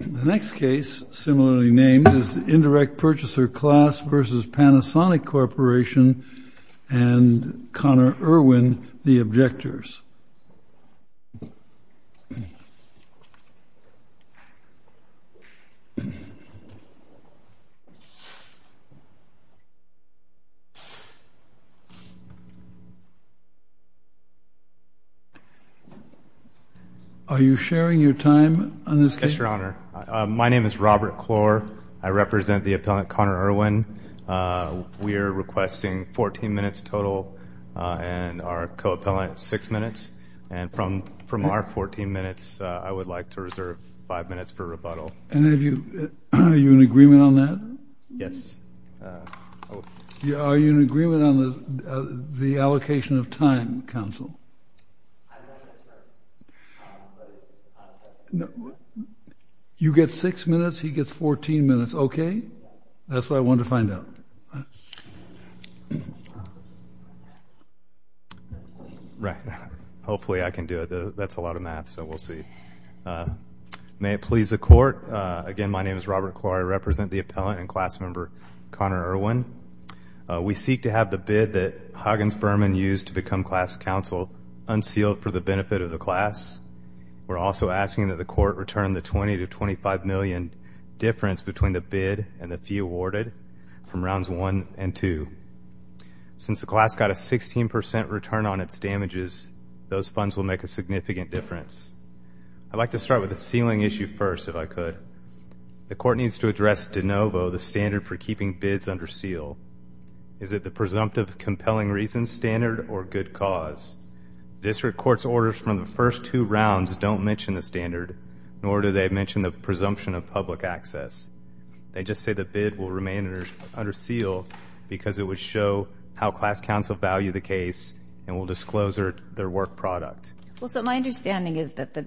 The next case, similarly named, is the Indirect Purchaser Class v. Panasonic Corporation and Conner Erwin, the objectors. Are you sharing your time on this case? Yes, Your Honor. My name is Robert Clore. I represent the appellant, Conner Erwin. We are requesting 14 minutes total and our co-appellant, 6 minutes. And from our 14 minutes, I would like to reserve 5 minutes for rebuttal. Are you in agreement on that? Yes. Are you in agreement on the allocation of time, Counsel? No. You get 6 minutes. He gets 14 minutes. Okay? That's what I wanted to find out. Right. Hopefully I can do it. That's a lot of math, so we'll see. May it please the Court, again, my name is Robert Clore. I represent the appellant and class member, Conner Erwin. We seek to have the bid that Huggins-Berman used to become class counsel unsealed for the benefit of the class. We're also asking that the Court return the $20 to $25 million difference between the bid and the fee awarded from Rounds 1 and 2. Since the class got a 16% return on its damages, those funds will make a significant difference. I'd like to start with the sealing issue first, if I could. The Court needs to address de novo the standard for keeping bids under seal. Is it the presumptive compelling reasons standard or good cause? District Court's orders from the first two rounds don't mention the standard, nor do they mention the presumption of public access. They just say the bid will remain under seal because it would show how class counsel value the case and will disclose their work product. Well, so my understanding is that the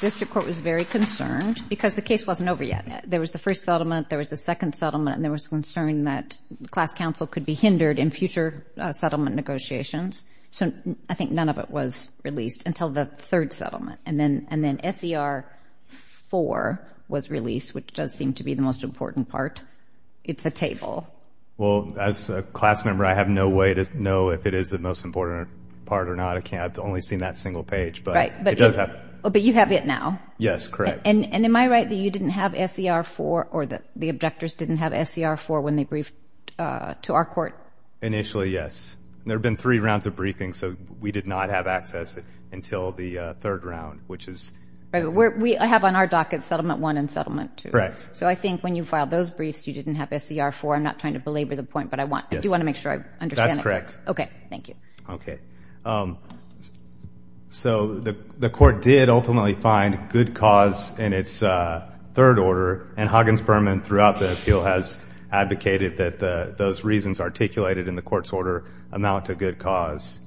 District Court was very concerned because the case wasn't over yet. There was the first settlement, there was the second settlement, and there was concern that class counsel could be hindered in future settlement negotiations. So I think none of it was released until the third settlement. And then SER 4 was released, which does seem to be the most important part. It's a table. Well, as a class member, I have no way to know if it is the most important part or not. I've only seen that single page, but it does have it. But you have it now. Yes, correct. And am I right that you didn't have SER 4 or that the objectors didn't have SER 4 when they briefed to our court? Initially, yes. There have been three rounds of briefings, so we did not have access until the third round, which is… We have on our docket Settlement 1 and Settlement 2. Correct. So I think when you filed those briefs, you didn't have SER 4. I'm not trying to belabor the point, but I do want to make sure I understand it. That's correct. Okay, thank you. Okay. So the court did ultimately find good cause in its third order, and Huggins-Berman throughout the appeal has advocated that those reasons articulated in the court's order amount to good cause.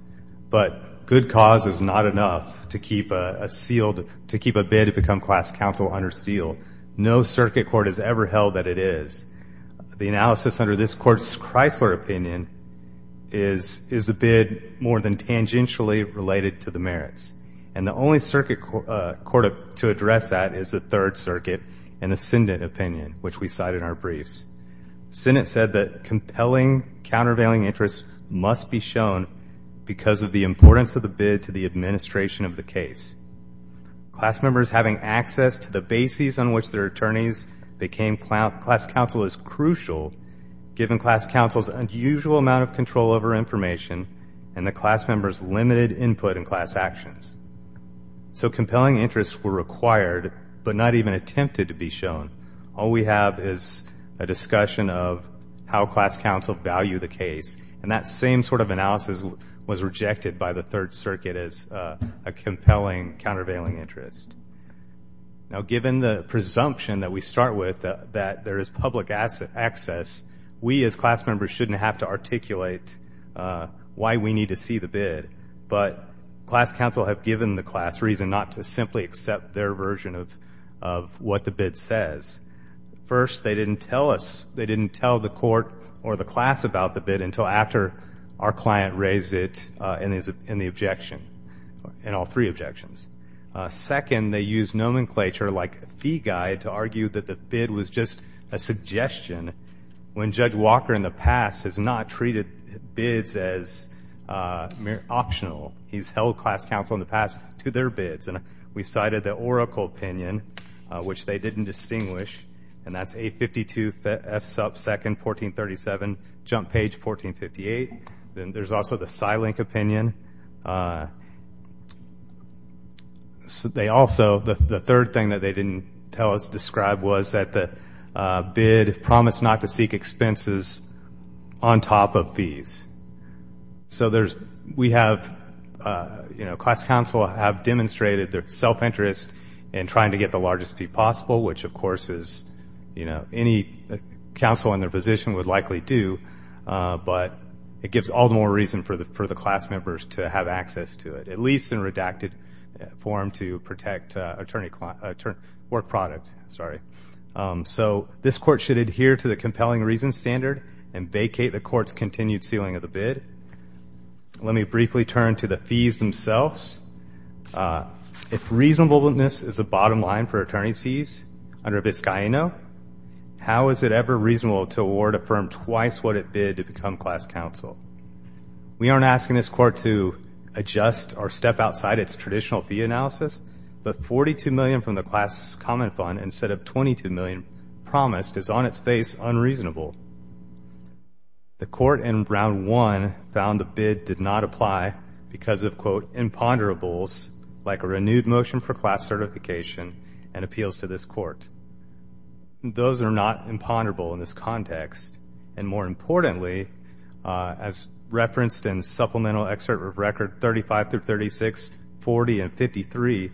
But good cause is not enough to keep a bid to become class counsel under seal. No circuit court has ever held that it is. The analysis under this court's Chrysler opinion is the bid more than tangentially related to the merits. And the only circuit court to address that is the Third Circuit and the Syndent opinion, which we cite in our briefs. Syndent said that compelling, countervailing interests must be shown because of the importance of the bid to the administration of the case. Class members having access to the bases on which their attorneys became class counsel is crucial, given class counsel's unusual amount of control over information and the class members' limited input in class actions. So compelling interests were required but not even attempted to be shown. All we have is a discussion of how class counsel value the case, and that same sort of analysis was rejected by the Third Circuit as a compelling, countervailing interest. Now, given the presumption that we start with that there is public access, we as class members shouldn't have to articulate why we need to see the bid, but class counsel have given the class reason not to simply accept their version of what the bid says. First, they didn't tell us, they didn't tell the court or the class about the bid until after our client raised it in the objection, in all three objections. Second, they used nomenclature like fee guide to argue that the bid was just a suggestion when Judge Walker in the past has not treated bids as optional. He's held class counsel in the past to their bids. And we cited the Oracle opinion, which they didn't distinguish, and that's 852 F sub 2nd 1437, jump page 1458. Then there's also the PsyLink opinion. They also, the third thing that they didn't tell us, describe was that the bid promised not to seek expenses on top of fees. So there's, we have, you know, class counsel have demonstrated their self-interest in trying to get the largest fee possible, which of course is, you know, any counsel in their position would likely do, but it gives all the more reason for the class members to have access to it, at least in redacted form to protect work product, sorry. So this court should adhere to the compelling reason standard and vacate the court's continued ceiling of the bid. Let me briefly turn to the fees themselves. If reasonableness is the bottom line for attorney's fees under Abiscaeno, how is it ever reasonable to award a firm twice what it bid to become class counsel? We aren't asking this court to adjust or step outside its traditional fee analysis, but $42 million from the class comment fund instead of $22 million promised is on its face unreasonable. The court in round one found the bid did not apply because of, quote, imponderables like a renewed motion for class certification and appeals to this court. Those are not imponderable in this context. And more importantly, as referenced in supplemental excerpt of record 35 through 36, 40 and 53,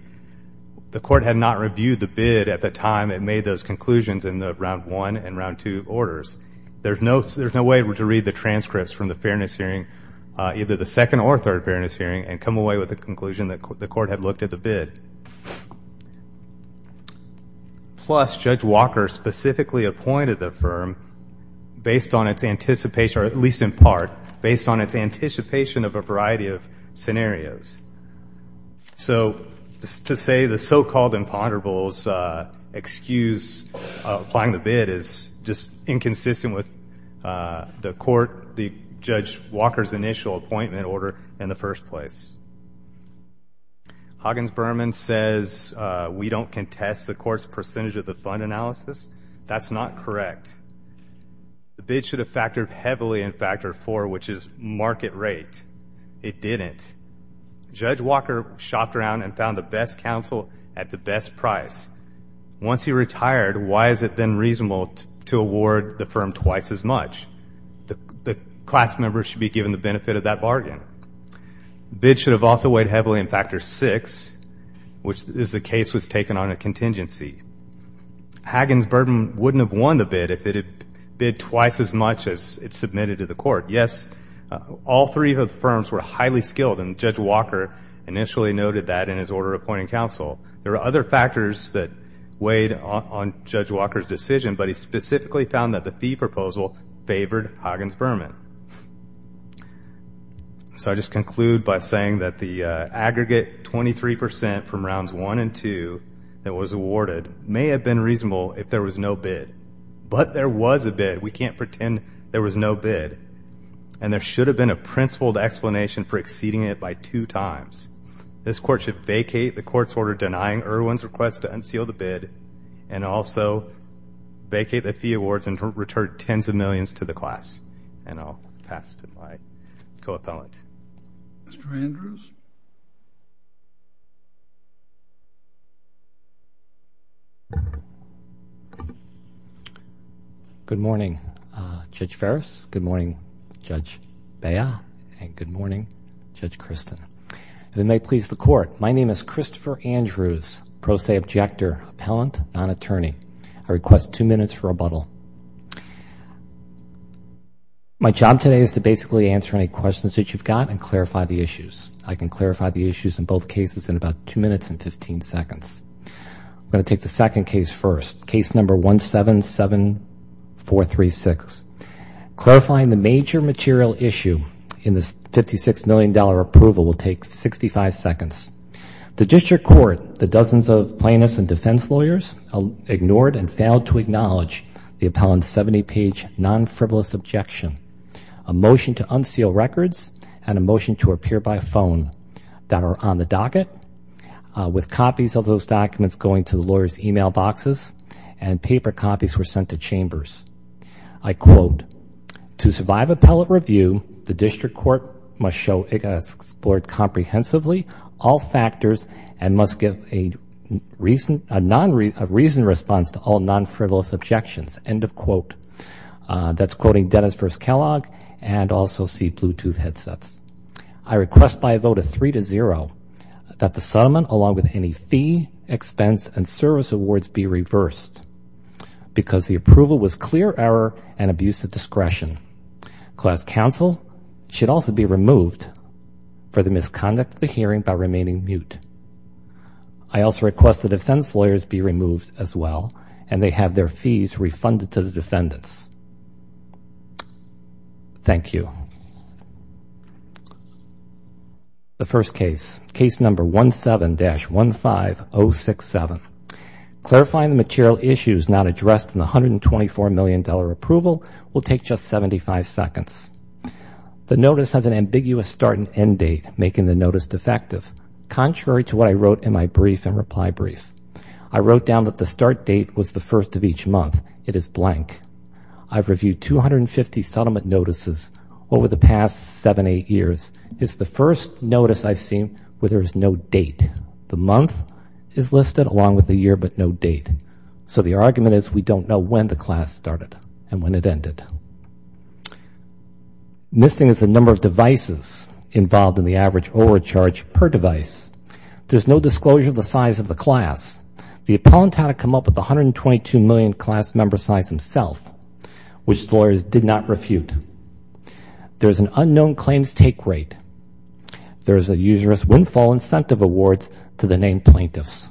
the court had not reviewed the bid at the time it made those conclusions in the round one and round two orders. There's no way to read the transcripts from the fairness hearing, either the second or third fairness hearing, and come away with a conclusion that the court had looked at the bid. Plus, Judge Walker specifically appointed the firm based on its anticipation, or at least in part, based on its anticipation of a variety of scenarios. So to say the so-called imponderables excuse applying the bid is just inconsistent with the court, the Judge Walker's initial appointment order in the first place. Huggins-Berman says we don't contest the court's percentage of the fund analysis. That's not correct. The bid should have factored heavily in factor four, which is market rate. It didn't. Judge Walker shopped around and found the best counsel at the best price. Once he retired, why is it then reasonable to award the firm twice as much? The class members should be given the benefit of that bargain. The bid should have also weighed heavily in factor six, which is the case was taken on a contingency. Huggins-Berman wouldn't have won the bid if it had bid twice as much as it submitted to the court. Yes, all three of the firms were highly skilled, and Judge Walker initially noted that in his order of appointing counsel. There are other factors that weighed on Judge Walker's decision, but he specifically found that the fee proposal favored Huggins-Berman. So I just conclude by saying that the aggregate 23 percent from rounds one and two that was awarded may have been reasonable if there was no bid. But there was a bid. We can't pretend there was no bid, and there should have been a principled explanation for exceeding it by two times. This court should vacate the court's order denying Irwin's request to unseal the bid and also vacate the fee awards and return tens of millions to the class. And I'll pass to my co-appellant. Mr. Andrews? Good morning, Judge Farris. Good morning, Judge Bea, and good morning, Judge Christin. If it may please the court, my name is Christopher Andrews, pro se objector, appellant, non-attorney. I request two minutes for rebuttal. My job today is to basically answer any questions that you've got and clarify the issues. I can clarify the issues in both cases in about two minutes and 15 seconds. I'm going to take the second case first, case number 177436. Clarifying the major material issue in this $56 million approval will take 65 seconds. The district court, the dozens of plaintiffs and defense lawyers, ignored and failed to acknowledge the appellant's 70-page non-frivolous objection, a motion to unseal records, and a motion to appear by phone that are on the docket, with copies of those documents going to the lawyer's e-mail boxes and paper copies were sent to chambers. I quote, to survive appellate review, the district court must show it has explored comprehensively all factors and must give a reasoned response to all non-frivolous objections, end of quote. That's quoting Dennis versus Kellogg and also see Bluetooth headsets. I request by a vote of three to zero that the settlement, along with any fee, expense, and service awards be reversed because the approval was clear error and abuse of discretion. Class counsel should also be removed for the misconduct of the hearing by remaining mute. I also request the defense lawyers be removed as well, and they have their fees refunded to the defendants. Thank you. The first case, case number 17-15067. Clarifying the material issues not addressed in the $124 million approval will take just 75 seconds. The notice has an ambiguous start and end date, making the notice defective. Contrary to what I wrote in my brief and reply brief, I wrote down that the start date was the first of each month. It is blank. I've reviewed 250 settlement notices over the past seven, eight years. It's the first notice I've seen where there is no date. The month is listed along with the year but no date. So the argument is we don't know when the class started and when it ended. Missing is the number of devices involved in the average overcharge per device. There's no disclosure of the size of the class. The appellant had to come up with 122 million class member size himself, which the lawyers did not refute. There's an unknown claims take rate. There's a usurous windfall incentive awards to the named plaintiffs.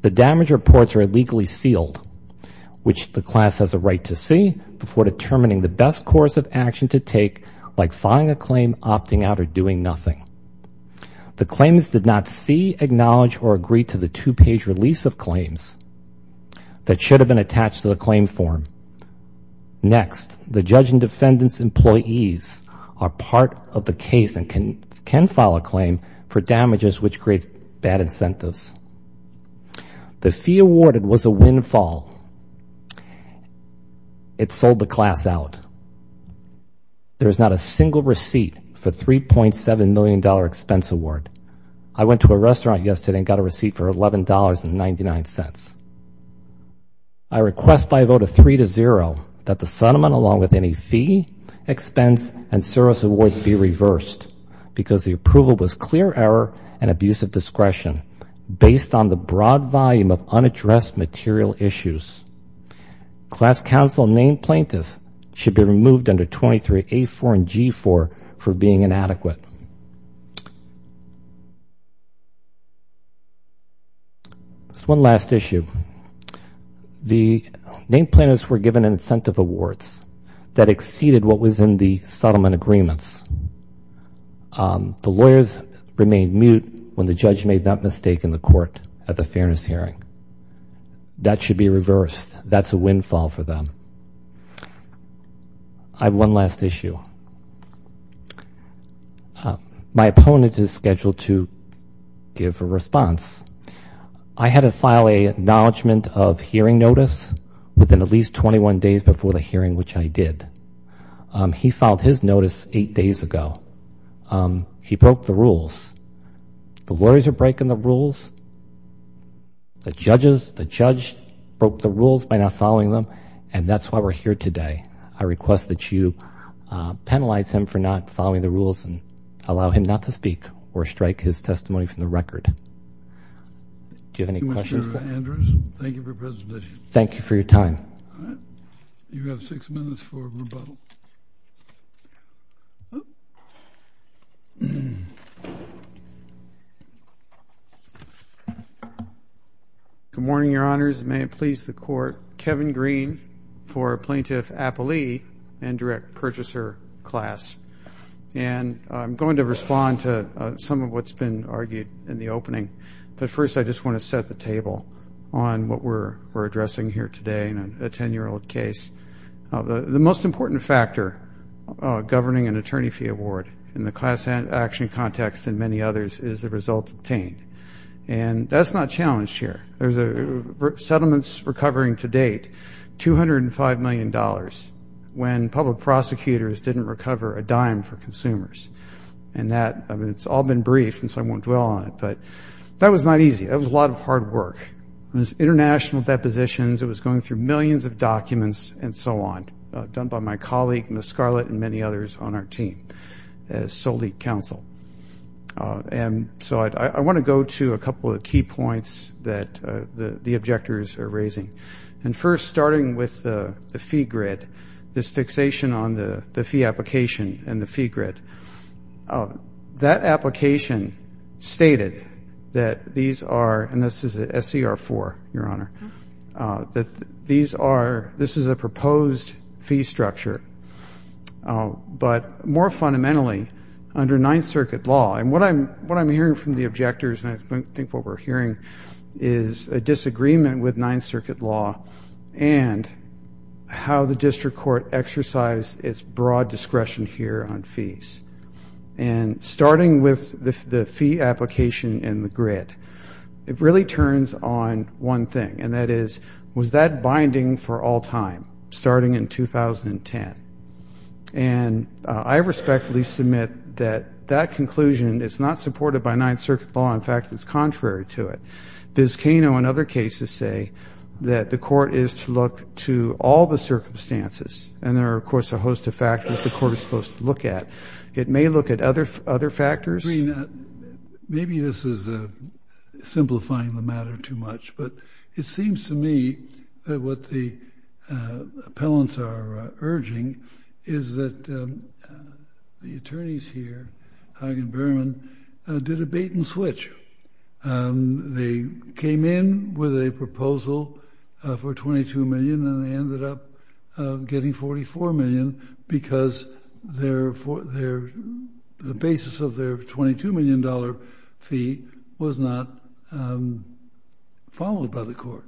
The damage reports are illegally sealed, which the class has a right to see, before determining the best course of action to take, like filing a claim, opting out, or doing nothing. The claimants did not see, acknowledge, or agree to the two-page release of claims that should have been attached to the claim form. Next, the judge and defendant's employees are part of the case and can file a claim for damages which creates bad incentives. The fee awarded was a windfall. It sold the class out. There is not a single receipt for $3.7 million expense award. I went to a restaurant yesterday and got a receipt for $11.99. I request by a vote of 3-0 that the settlement, along with any fee, expense, and service awards, be reversed, because the approval was clear error and abuse of discretion, based on the broad volume of unaddressed material issues. Class counsel named plaintiffs should be removed under 23A4 and G4 for being inadequate. That's one last issue. The named plaintiffs were given incentive awards that exceeded what was in the settlement agreements. The lawyers remained mute when the judge made that mistake in the court at the fairness hearing. That should be reversed. That's a windfall for them. I have one last issue. My opponent is scheduled to give a response. I had to file an acknowledgment of hearing notice within at least 21 days before the hearing, which I did. He filed his notice eight days ago. He broke the rules. The lawyers are breaking the rules. The judge broke the rules by not following them, and that's why we're here today. I request that you penalize him for not following the rules and allow him not to speak or strike his testimony from the record. Do you have any questions? Thank you, Mr. Andrews. Thank you for your presentation. Thank you for your time. All right. You have six minutes for rebuttal. Good morning, Your Honors. May it please the Court. Kevin Green for Plaintiff Appellee and Direct Purchaser class. I'm going to respond to some of what's been argued in the opening, but first I just want to set the table on what we're addressing here today in a 10-year-old case. The most important factor governing an attorney fee award in the class action context and many others is the result obtained. That's not challenged here. There's settlements recovering to date $205 million when public prosecutors didn't recover a dime for consumers. It's all been briefed, and so I won't dwell on it, but that was not easy. That was a lot of hard work. It was international depositions. It was going through millions of documents and so on, done by my colleague, Ms. Scarlett, and many others on our team as Solete Counsel. And so I want to go to a couple of key points that the objectors are raising. And first, starting with the fee grid, this fixation on the fee application and the fee grid. That application stated that these are, and this is SCR-4, Your Honor, that this is a proposed fee structure, but more fundamentally, under Ninth Circuit law, and what I'm hearing from the objectors and I think what we're hearing is a disagreement with Ninth Circuit law and how the district court exercised its broad discretion here on fees. And starting with the fee application and the grid, it really turns on one thing, and that is, was that binding for all time, starting in 2010? And I respectfully submit that that conclusion is not supported by Ninth Circuit law. In fact, it's contrary to it. Biscano and other cases say that the court is to look to all the circumstances, and there are, of course, a host of factors the court is supposed to look at. It may look at other factors. Maybe this is simplifying the matter too much, but it seems to me that what the appellants are urging is that the attorneys here, Hagen-Berman, did a bait and switch. They came in with a proposal for $22 million, and they ended up getting $44 million because the basis of their $22 million fee was not followed by the court,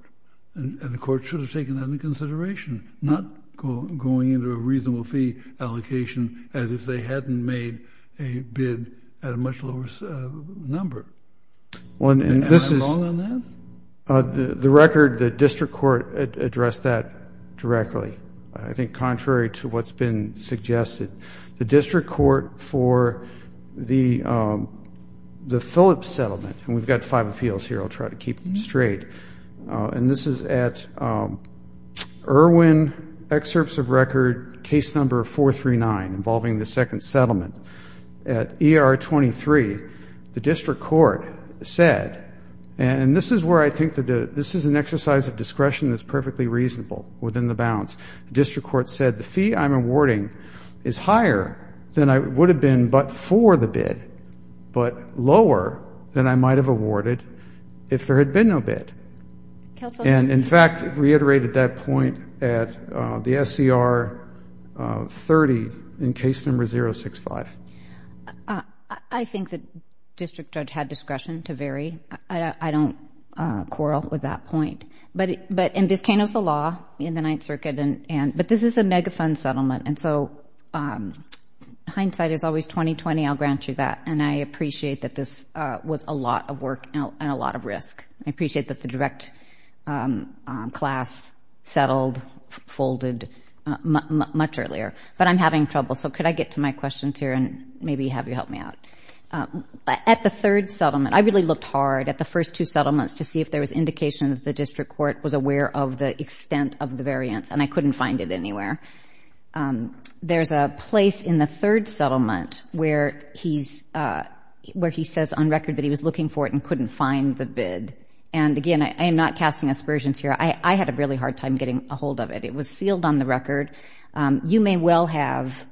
and the court should have taken that into consideration, not going into a reasonable fee allocation as if they hadn't made a bid at a much lower number. Am I wrong on that? The record, the district court addressed that directly. I think contrary to what's been suggested, the district court for the Phillips settlement, and we've got five appeals here, I'll try to keep them straight, and this is at Irwin Excerpts of Record Case Number 439 involving the second settlement. At ER 23, the district court said, and this is where I think that this is an exercise of discretion that's perfectly reasonable within the bounds, the district court said, the fee I'm awarding is higher than it would have been but for the bid, but lower than I might have awarded if there had been no bid. And, in fact, reiterated that point at the SCR 30 in Case Number 065. I think the district judge had discretion to vary. I don't quarrel with that point. And Vizcano's the law in the Ninth Circuit, but this is a mega-fund settlement, and so hindsight is always 20-20, I'll grant you that, and I appreciate that this was a lot of work and a lot of risk. I appreciate that the direct class settled, folded much earlier, but I'm having trouble, so could I get to my questions here and maybe have you help me out? At the third settlement, I really looked hard at the first two settlements to see if there was indication that the district court was aware of the extent of the variance, and I couldn't find it anywhere. There's a place in the third settlement where he says on record that he was looking for it and couldn't find the bid. And, again, I am not casting aspersions here. I had a really hard time getting a hold of it. It was sealed on the record. You may well have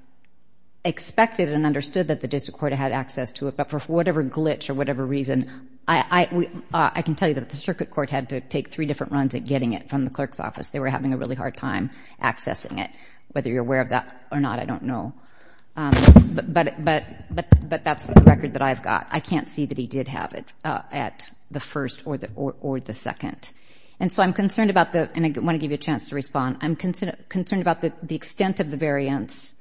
expected and understood that the district court had access to it, but for whatever glitch or whatever reason, I can tell you that the district court had to take three different runs at getting it from the clerk's office. They were having a really hard time accessing it. Whether you're aware of that or not, I don't know. But that's the record that I've got. I can't see that he did have it at the first or the second. And so I'm concerned about the, and I want to give you a chance to respond, I'm concerned about the extent of the variance.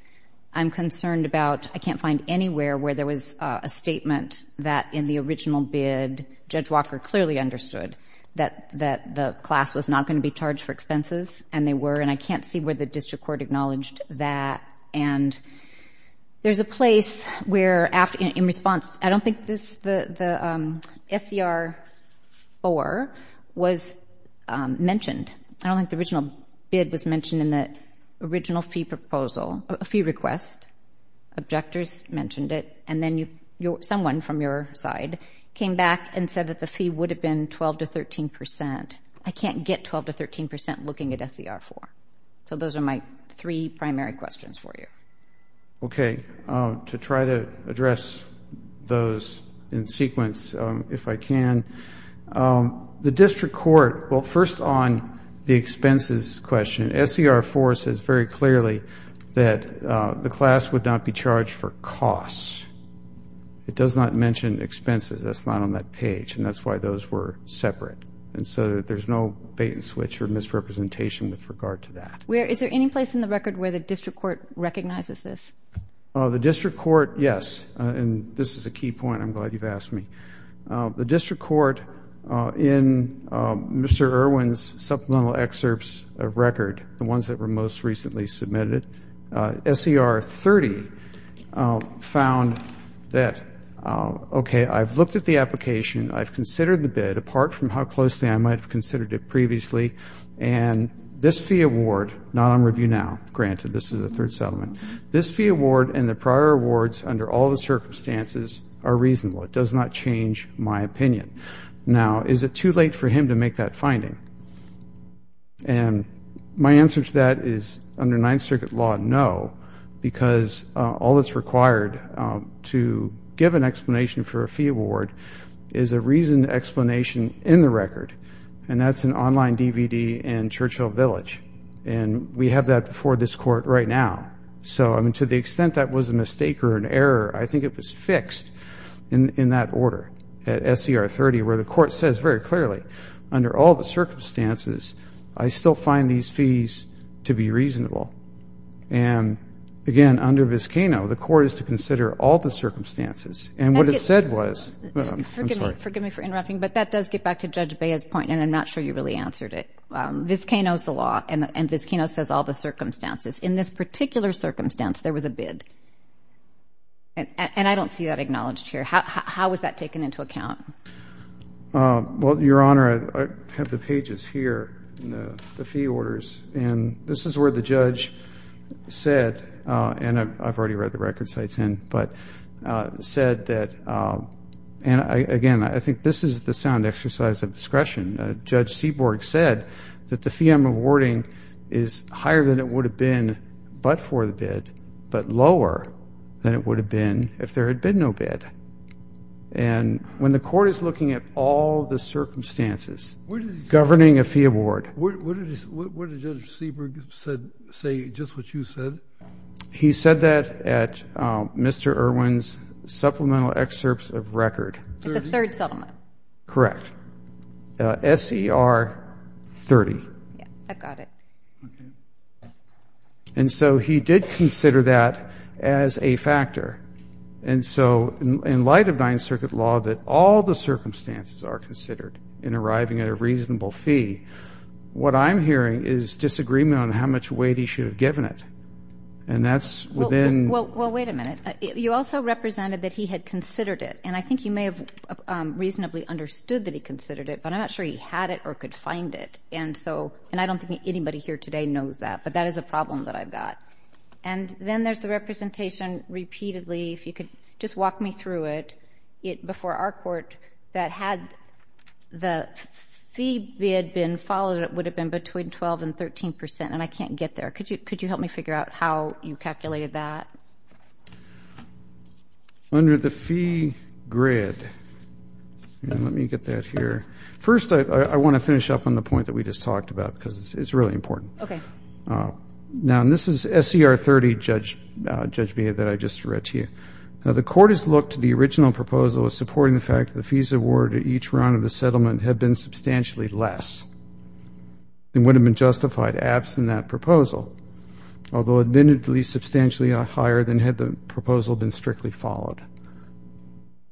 I'm concerned about, I can't find anywhere where there was a statement that in the original bid, Judge Walker clearly understood that the class was not going to be charged for expenses, and they were, and I can't see where the district court acknowledged that. And there's a place where, in response, I don't think the SCR-4 was mentioned. I don't think the original bid was mentioned in the original fee proposal, a fee request. Objectors mentioned it. And then someone from your side came back and said that the fee would have been 12% to 13%. I can't get 12% to 13% looking at SCR-4. So those are my three primary questions for you. Okay. To try to address those in sequence, if I can. The district court, well, first on the expenses question, SCR-4 says very clearly that the class would not be charged for costs. It does not mention expenses. That's not on that page, and that's why those were separate. And so there's no bait and switch or misrepresentation with regard to that. Is there any place in the record where the district court recognizes this? The district court, yes. And this is a key point. I'm glad you've asked me. The district court, in Mr. Irwin's supplemental excerpts of record, the ones that were most recently submitted, SCR-30 found that, okay, I've looked at the application, I've considered the bid, apart from how closely I might have considered it previously, and this fee award, not on review now, granted this is a third settlement, this fee award and the prior awards under all the circumstances are reasonable. It does not change my opinion. Now, is it too late for him to make that finding? And my answer to that is, under Ninth Circuit law, no, because all that's required to give an explanation for a fee award is a reasoned explanation in the record, and that's an online DVD in Churchill Village, and we have that before this court right now. So, I mean, to the extent that was a mistake or an error, I think it was fixed. In that order, at SCR-30, where the court says very clearly, under all the circumstances, I still find these fees to be reasonable. And, again, under Vizcano, the court is to consider all the circumstances. And what it said was, I'm sorry. Forgive me for interrupting, but that does get back to Judge Bea's point, and I'm not sure you really answered it. Vizcano's the law, and Vizcano says all the circumstances. In this particular circumstance, there was a bid. And I don't see that acknowledged here. How was that taken into account? Well, Your Honor, I have the pages here, the fee orders, and this is where the judge said, and I've already read the record sites in, but said that, and, again, I think this is the sound exercise of discretion. Judge Seaborg said that the fee I'm awarding is higher than it would have been but for the bid, but lower than it would have been if there had been no bid. And when the court is looking at all the circumstances governing a fee award. What did Judge Seaborg say, just what you said? He said that at Mr. Irwin's supplemental excerpts of record. At the third settlement. Correct. SCR-30. I've got it. Okay. And so he did consider that as a factor. And so in light of Ninth Circuit law that all the circumstances are considered in arriving at a reasonable fee, what I'm hearing is disagreement on how much weight he should have given it. And that's within. Well, wait a minute. You also represented that he had considered it, and I think you may have reasonably understood that he considered it, but I'm not sure he had it or could find it. And I don't think anybody here today knows that, but that is a problem that I've got. And then there's the representation repeatedly. If you could just walk me through it. Before our court, that had the fee bid been followed, it would have been between 12% and 13%, and I can't get there. Could you help me figure out how you calculated that? Under the fee grid. Let me get that here. First, I want to finish up on the point that we just talked about because it's really important. Okay. Now, and this is SCR 30, Judge Beha, that I just read to you. Now, the court has looked to the original proposal as supporting the fact that the fees awarded each round of the settlement have been substantially less. It would have been justified absent that proposal, although admittedly substantially higher than had the proposal been strictly followed.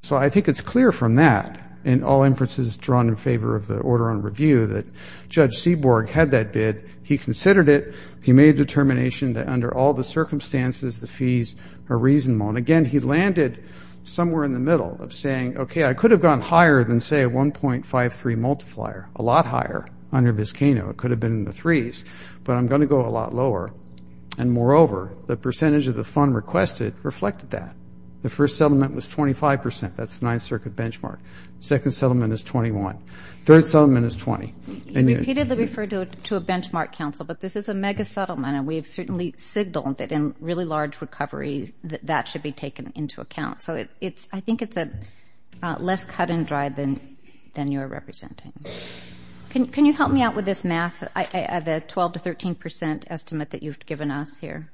So I think it's clear from that, in all inferences drawn in favor of the order on review, that Judge Seaborg had that bid. He considered it. He made a determination that under all the circumstances, the fees are reasonable. And, again, he landed somewhere in the middle of saying, okay, I could have gone higher than, say, a 1.53 multiplier, a lot higher under Vizcano. It could have been in the threes, but I'm going to go a lot lower. And, moreover, the percentage of the fund requested reflected that. The first settlement was 25 percent. That's the Ninth Circuit benchmark. The second settlement is 21. The third settlement is 20. You repeatedly refer to a benchmark, Counsel, but this is a mega-settlement, and we have certainly signaled that in really large recovery that that should be taken into account. So I think it's less cut and dry than you're representing. Can you help me out with this math, the 12 to 13 percent estimate that you've given us here?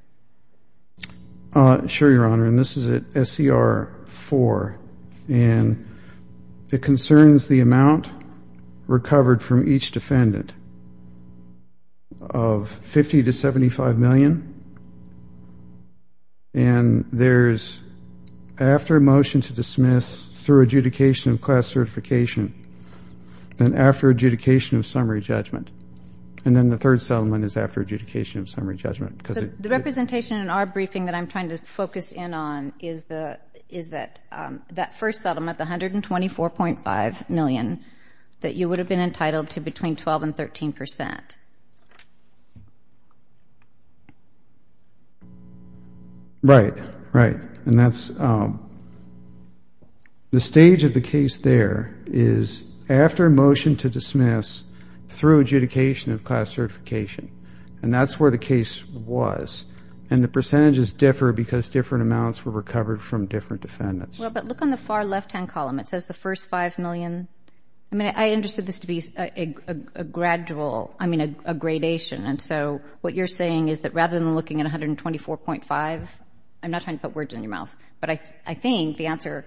Sure, Your Honor, and this is at SCR 4, and it concerns the amount recovered from each defendant of 50 to 75 million. And there's after a motion to dismiss through adjudication of class certification and after adjudication of summary judgment. And then the third settlement is after adjudication of summary judgment. The representation in our briefing that I'm trying to focus in on is that first settlement, the 124.5 million, that you would have been entitled to between 12 and 13 percent. Right, right. And that's the stage of the case there is after a motion to dismiss through adjudication of class certification. And that's where the case was. And the percentages differ because different amounts were recovered from different defendants. Well, but look on the far left-hand column. It says the first 5 million. I mean, I understood this to be a gradual, I mean, a gradation. And so what you're saying is that rather than looking at 124.5, I'm not trying to put words in your mouth, but I think the answer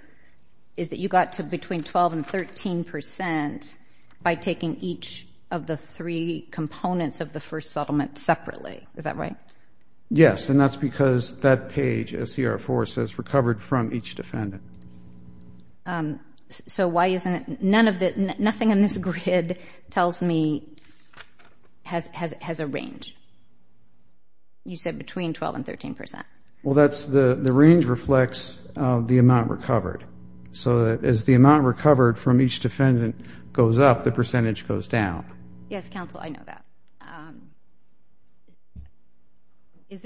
is that you got to between 12 and 13 percent by taking each of the three components of the first settlement separately. Is that right? Yes. And that's because that page, SCR-4, says recovered from each defendant. So why isn't it? Nothing on this grid tells me has a range. You said between 12 and 13 percent. Well, the range reflects the amount recovered. So as the amount recovered from each defendant goes up, the percentage goes down. Yes, counsel, I know that. Is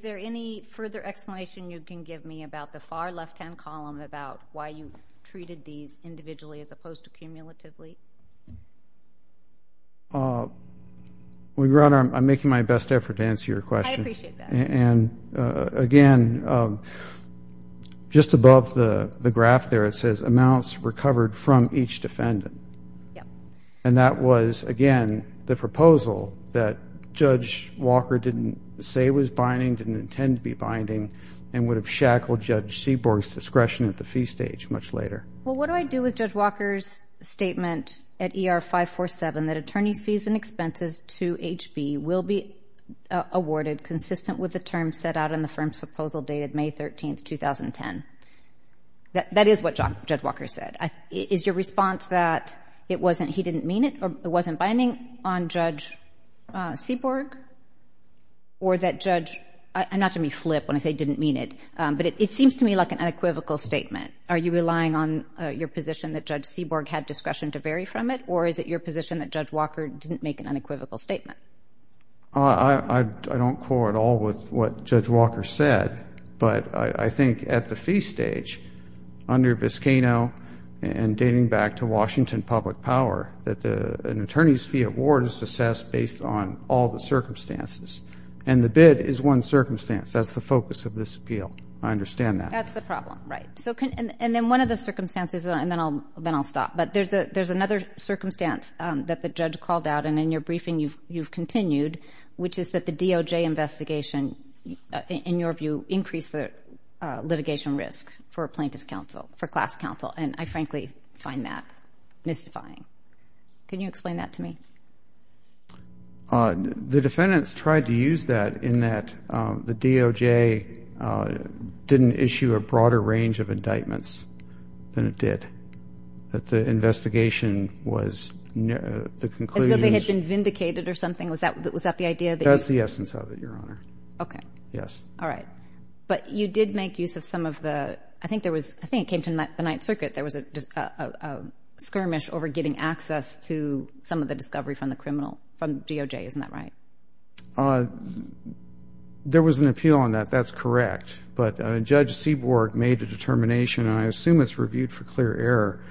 there any further explanation you can give me about the far left-hand column about why you treated these individually as opposed to cumulatively? I'm making my best effort to answer your question. I appreciate that. And, again, just above the graph there, it says amounts recovered from each defendant. And that was, again, the proposal that Judge Walker didn't say was binding, didn't intend to be binding, and would have shackled Judge Seaborg's discretion at the fee stage much later. Well, what do I do with Judge Walker's statement at ER-547 that attorneys' fees and expenses to HB will be awarded consistent with the terms set out in the firm's proposal dated May 13, 2010? That is what Judge Walker said. Is your response that he didn't mean it or it wasn't binding on Judge Seaborg? Or that Judge – I'm not going to flip when I say didn't mean it, but it seems to me like an unequivocal statement. Are you relying on your position that Judge Seaborg had discretion to vary from it, or is it your position that Judge Walker didn't make an unequivocal statement? I don't quarrel at all with what Judge Walker said, but I think at the fee stage under Biscano and dating back to Washington public power that an attorney's fee award is assessed based on all the circumstances. And the bid is one circumstance. That's the focus of this appeal. I understand that. That's the problem. Right. And then one of the circumstances, and then I'll stop. But there's another circumstance that the judge called out, and in your briefing you've continued, which is that the DOJ investigation, in your view, increased the litigation risk for a plaintiff's counsel, for class counsel. And I frankly find that mystifying. Can you explain that to me? The defendants tried to use that in that the DOJ didn't issue a broader range of indictments than it did. That the investigation was the conclusion. As though they had been vindicated or something? Was that the idea that you. That's the essence of it, Your Honor. Okay. Yes. All right. But you did make use of some of the, I think there was, I think it came to the Ninth Circuit, there was a skirmish over getting access to some of the discovery from the criminal, from DOJ. Isn't that right? There was an appeal on that. That's correct. But Judge Seaborg made a determination, and I assume it's reviewed for clear error,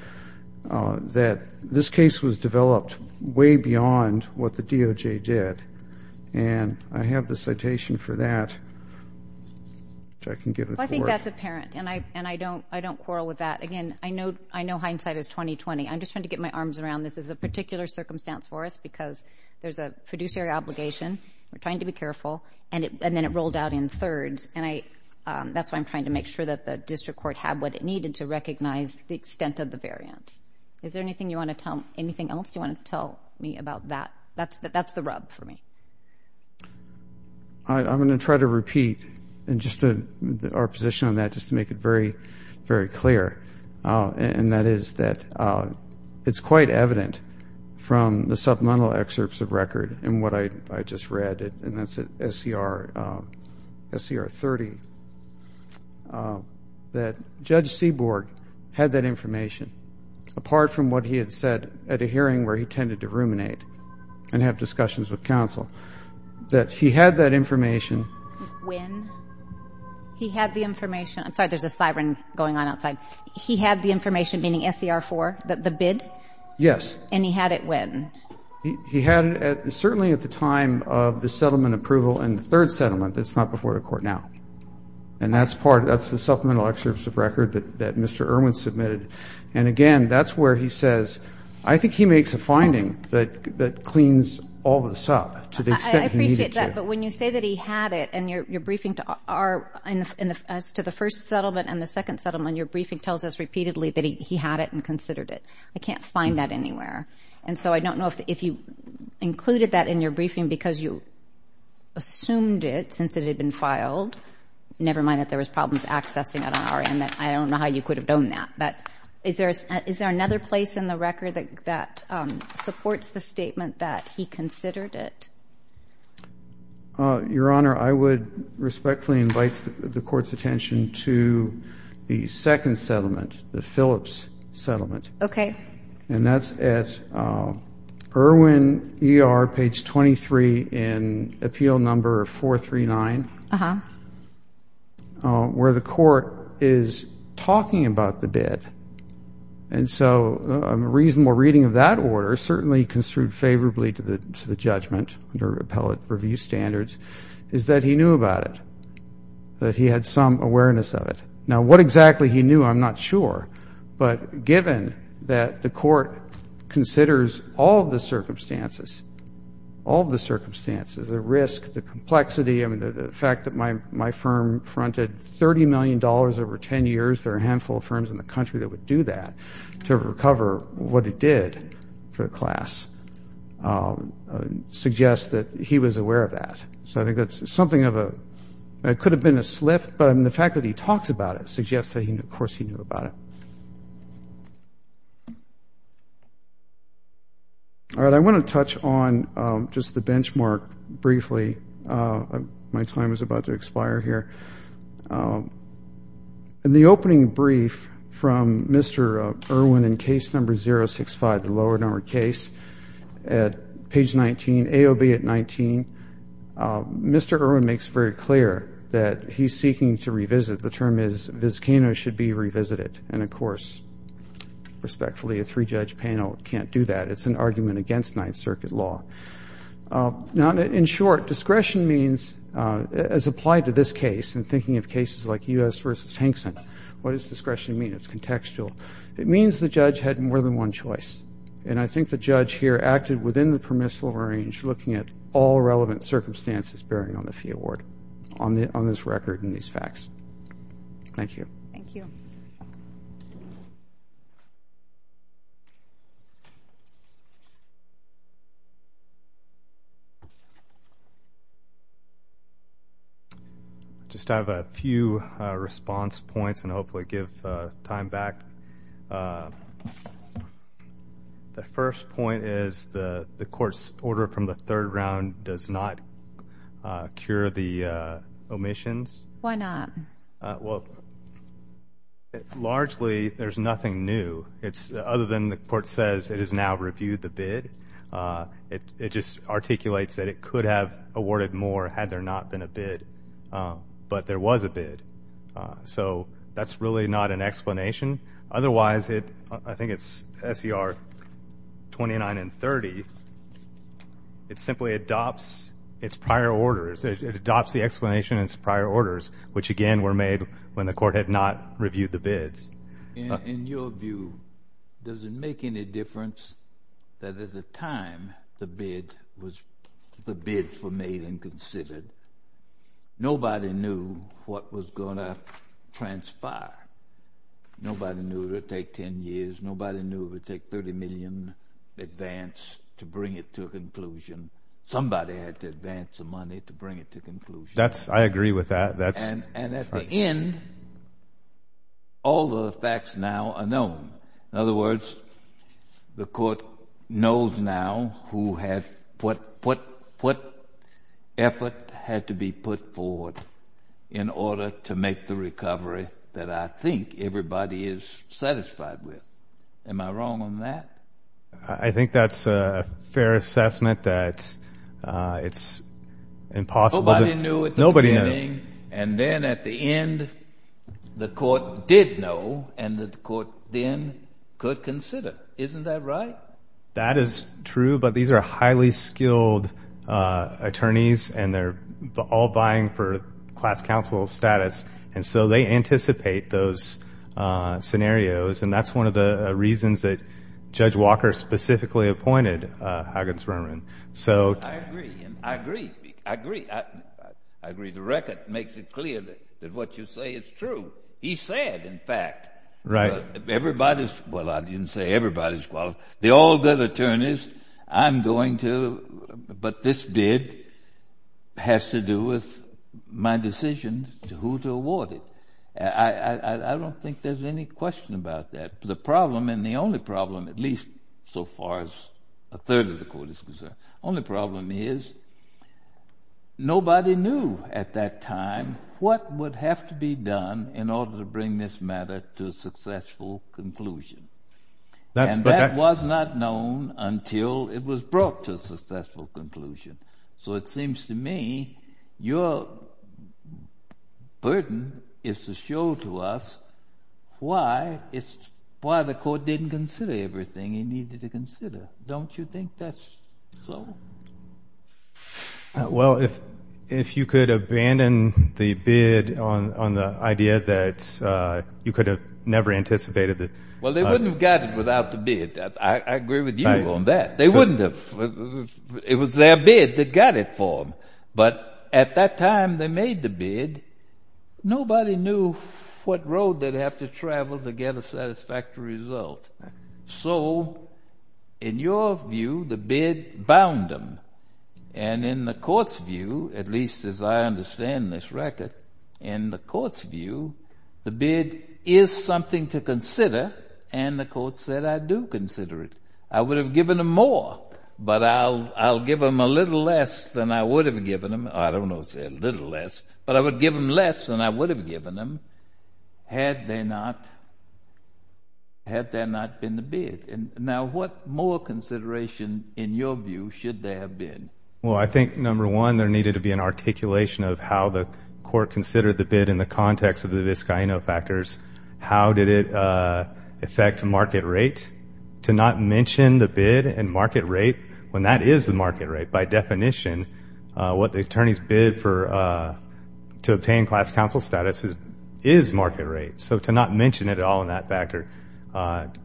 that this case was developed way beyond what the DOJ did. And I have the citation for that, which I can give it to her. I think that's apparent, and I don't quarrel with that. Again, I know hindsight is 20-20. I'm just trying to get my arms around this as a particular circumstance for us, because there's a fiduciary obligation. We're trying to be careful. And then it rolled out in thirds, and that's why I'm trying to make sure that the district court had what it needed to recognize the extent of the variance. Is there anything else you want to tell me about that? That's the rub for me. I'm going to try to repeat our position on that just to make it very, very clear, and that is that it's quite evident from the supplemental excerpts of record and what I just read, and that's at SCR 30, that Judge Seaborg had that information, apart from what he had said at a hearing where he tended to ruminate and have discussions with counsel, that he had that information. When? He had the information. I'm sorry, there's a siren going on outside. He had the information, meaning SCR 4, the bid? Yes. And he had it when? He had it certainly at the time of the settlement approval in the third settlement. It's not before the court now. And that's the supplemental excerpts of record that Mr. Irwin submitted. And, again, that's where he says, I think he makes a finding that cleans all this up to the extent he needed to. I appreciate that. But when you say that he had it and your briefing as to the first settlement and the second settlement, your briefing tells us repeatedly that he had it and considered it. I can't find that anywhere. And so I don't know if you included that in your briefing because you assumed it since it had been filed, never mind that there was problems accessing it on our end. I don't know how you could have known that. But is there another place in the record that supports the statement that he considered it? Your Honor, I would respectfully invite the Court's attention to the second settlement, the Phillips settlement. Okay. And that's at Irwin ER, page 23 in appeal number 439, where the court is talking about the bid. And so a reasonable reading of that order, certainly construed favorably to the judgment under appellate review standards, is that he knew about it, that he had some awareness of it. Now, what exactly he knew, I'm not sure. But given that the court considers all of the circumstances, all of the circumstances, the risk, the complexity, I mean, the fact that my firm fronted $30 million over 10 years, there are a handful of firms in the country that would do that to recover what it did for the class, suggests that he was aware of that. So I think that's something of a – it could have been a slip, but the fact that he talks about it suggests that, of course, he knew about it. All right, I want to touch on just the benchmark briefly. My time is about to expire here. In the opening brief from Mr. Irwin in case number 065, the lower number case, at page 19, AOB at 19, Mr. Irwin makes very clear that he's seeking to revisit. The term is viscano should be revisited. And, of course, respectfully, a three-judge panel can't do that. It's an argument against Ninth Circuit law. Now, in short, discretion means, as applied to this case, in thinking of cases like U.S. v. Hankson, what does discretion mean? It's contextual. It means the judge had more than one choice. And I think the judge here acted within the permissible range, looking at all relevant circumstances bearing on the fee award on this record and these facts. Thank you. Thank you. Thank you. I just have a few response points and hopefully give time back. The first point is the court's order from the third round does not cure the omissions. Why not? Well, largely, there's nothing new, other than the court says it has now reviewed the bid. It just articulates that it could have awarded more had there not been a bid, but there was a bid. So that's really not an explanation. Otherwise, I think it's S.E.R. 29 and 30, it simply adopts its prior orders. It adopts the explanation in its prior orders, which, again, were made when the court had not reviewed the bids. In your view, does it make any difference that at the time the bids were made and considered, nobody knew what was going to transpire? Nobody knew it would take 10 years. Nobody knew it would take 30 million advance to bring it to a conclusion. Somebody had to advance the money to bring it to a conclusion. I agree with that. And at the end, all the facts now are known. In other words, the court knows now what effort had to be put forward in order to make the recovery that I think everybody is satisfied with. Am I wrong on that? I think that's a fair assessment that it's impossible to- Nobody knew at the beginning. Nobody knew. And then at the end, the court did know, and the court then could consider. Isn't that right? That is true, but these are highly skilled attorneys, and they're all vying for class counsel status. And so they anticipate those scenarios, and that's one of the reasons that Judge Walker specifically appointed Huggins-Berman. I agree. I agree. I agree. I agree. The record makes it clear that what you say is true. He said, in fact, everybody's-well, I didn't say everybody's qualified. I'm going to-but this bid has to do with my decision as to who to award it. I don't think there's any question about that. The problem, and the only problem, at least so far as a third of the court is concerned, only problem is nobody knew at that time what would have to be done in order to bring this matter to a successful conclusion. And that was not known until it was brought to a successful conclusion. So it seems to me your burden is to show to us why the court didn't consider everything it needed to consider. Don't you think that's so? Well, if you could abandon the bid on the idea that you could have never anticipated that- Well, they wouldn't have got it without the bid. I agree with you on that. They wouldn't have. It was their bid that got it for them. But at that time they made the bid, nobody knew what road they'd have to travel to get a satisfactory result. So in your view, the bid bound them. And in the court's view, at least as I understand this record, in the court's view, the bid is something to consider, and the court said, I do consider it. I would have given them more, but I'll give them a little less than I would have given them. I don't know if it's a little less, but I would give them less than I would have given them had they not- had there not been the bid. Now, what more consideration, in your view, should there have been? Well, I think, number one, there needed to be an articulation of how the court considered the bid in the context of the Vizcaíno factors. How did it affect market rate? To not mention the bid and market rate when that is the market rate. By definition, what the attorneys bid to obtain class counsel status is market rate. So to not mention it at all in that factor,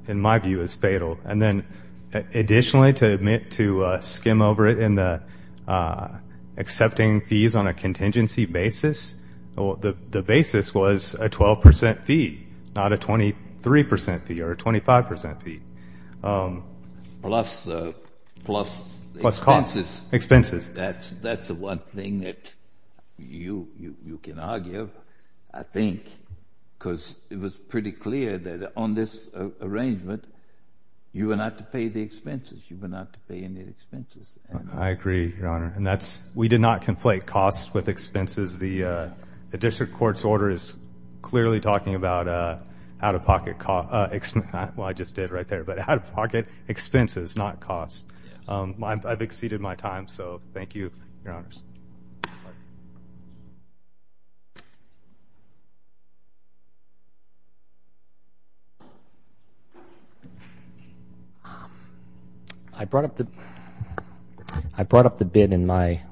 in my view, is fatal. And then additionally, to skim over it in the accepting fees on a contingency basis, the basis was a 12% fee, not a 23% fee or a 25% fee. Plus expenses. Expenses. That's the one thing that you can argue, I think, because it was pretty clear that on this arrangement, you were not to pay the expenses. You were not to pay any expenses. I agree, Your Honor. And that's- we did not conflate costs with expenses. The district court's order is clearly talking about out-of-pocket- well, I just did right there, but out-of-pocket expenses, not costs. I've exceeded my time, so thank you, Your Honors. I brought up the bid in my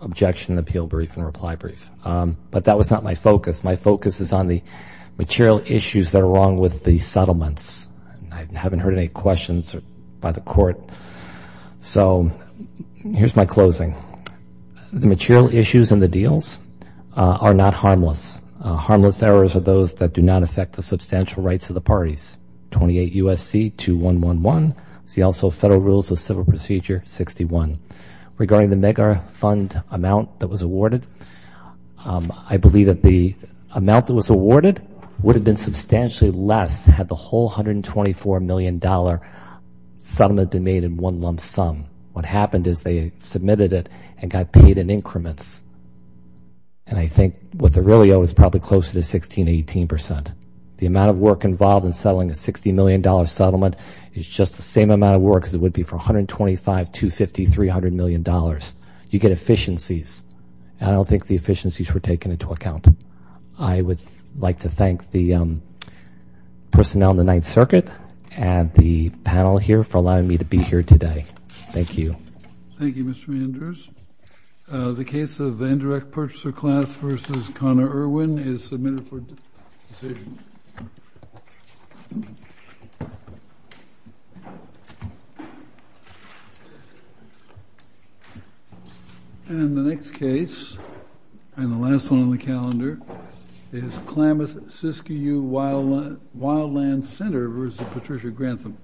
objection appeal brief and reply brief, but that was not my focus. My focus is on the material issues that are wrong with the settlements. I haven't heard any questions by the court. So here's my closing. The material issues in the deals are not harmless. Harmless errors are those that do not affect the substantial rights of the parties. 28 U.S.C. 2111. See also Federal Rules of Civil Procedure 61. Regarding the mega-fund amount that was awarded, I believe that the amount that was awarded would have been substantially less had the whole $124 million settlement been made in one lump sum. What happened is they submitted it and got paid in increments. And I think what they really owe is probably closer to 16, 18%. The amount of work involved in settling a $60 million settlement is just the same amount of work as it would be for $125, $250, $300 million. You get efficiencies. I don't think the efficiencies were taken into account. I would like to thank the personnel in the Ninth Circuit and the panel here for allowing me to be here today. Thank you. Thank you, Mr. Manders. The case of the indirect purchaser class versus Connor Irwin is submitted for decision. And the next case, and the last one on the calendar, is Klamath-Siskiyou Wildland Center versus Patricia Grantham.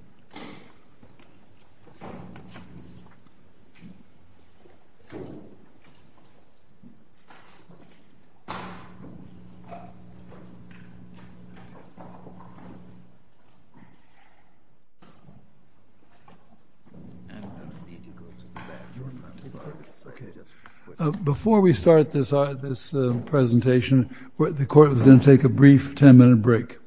Before we start this presentation, the court is going to take a brief 10-minute break. Thank you.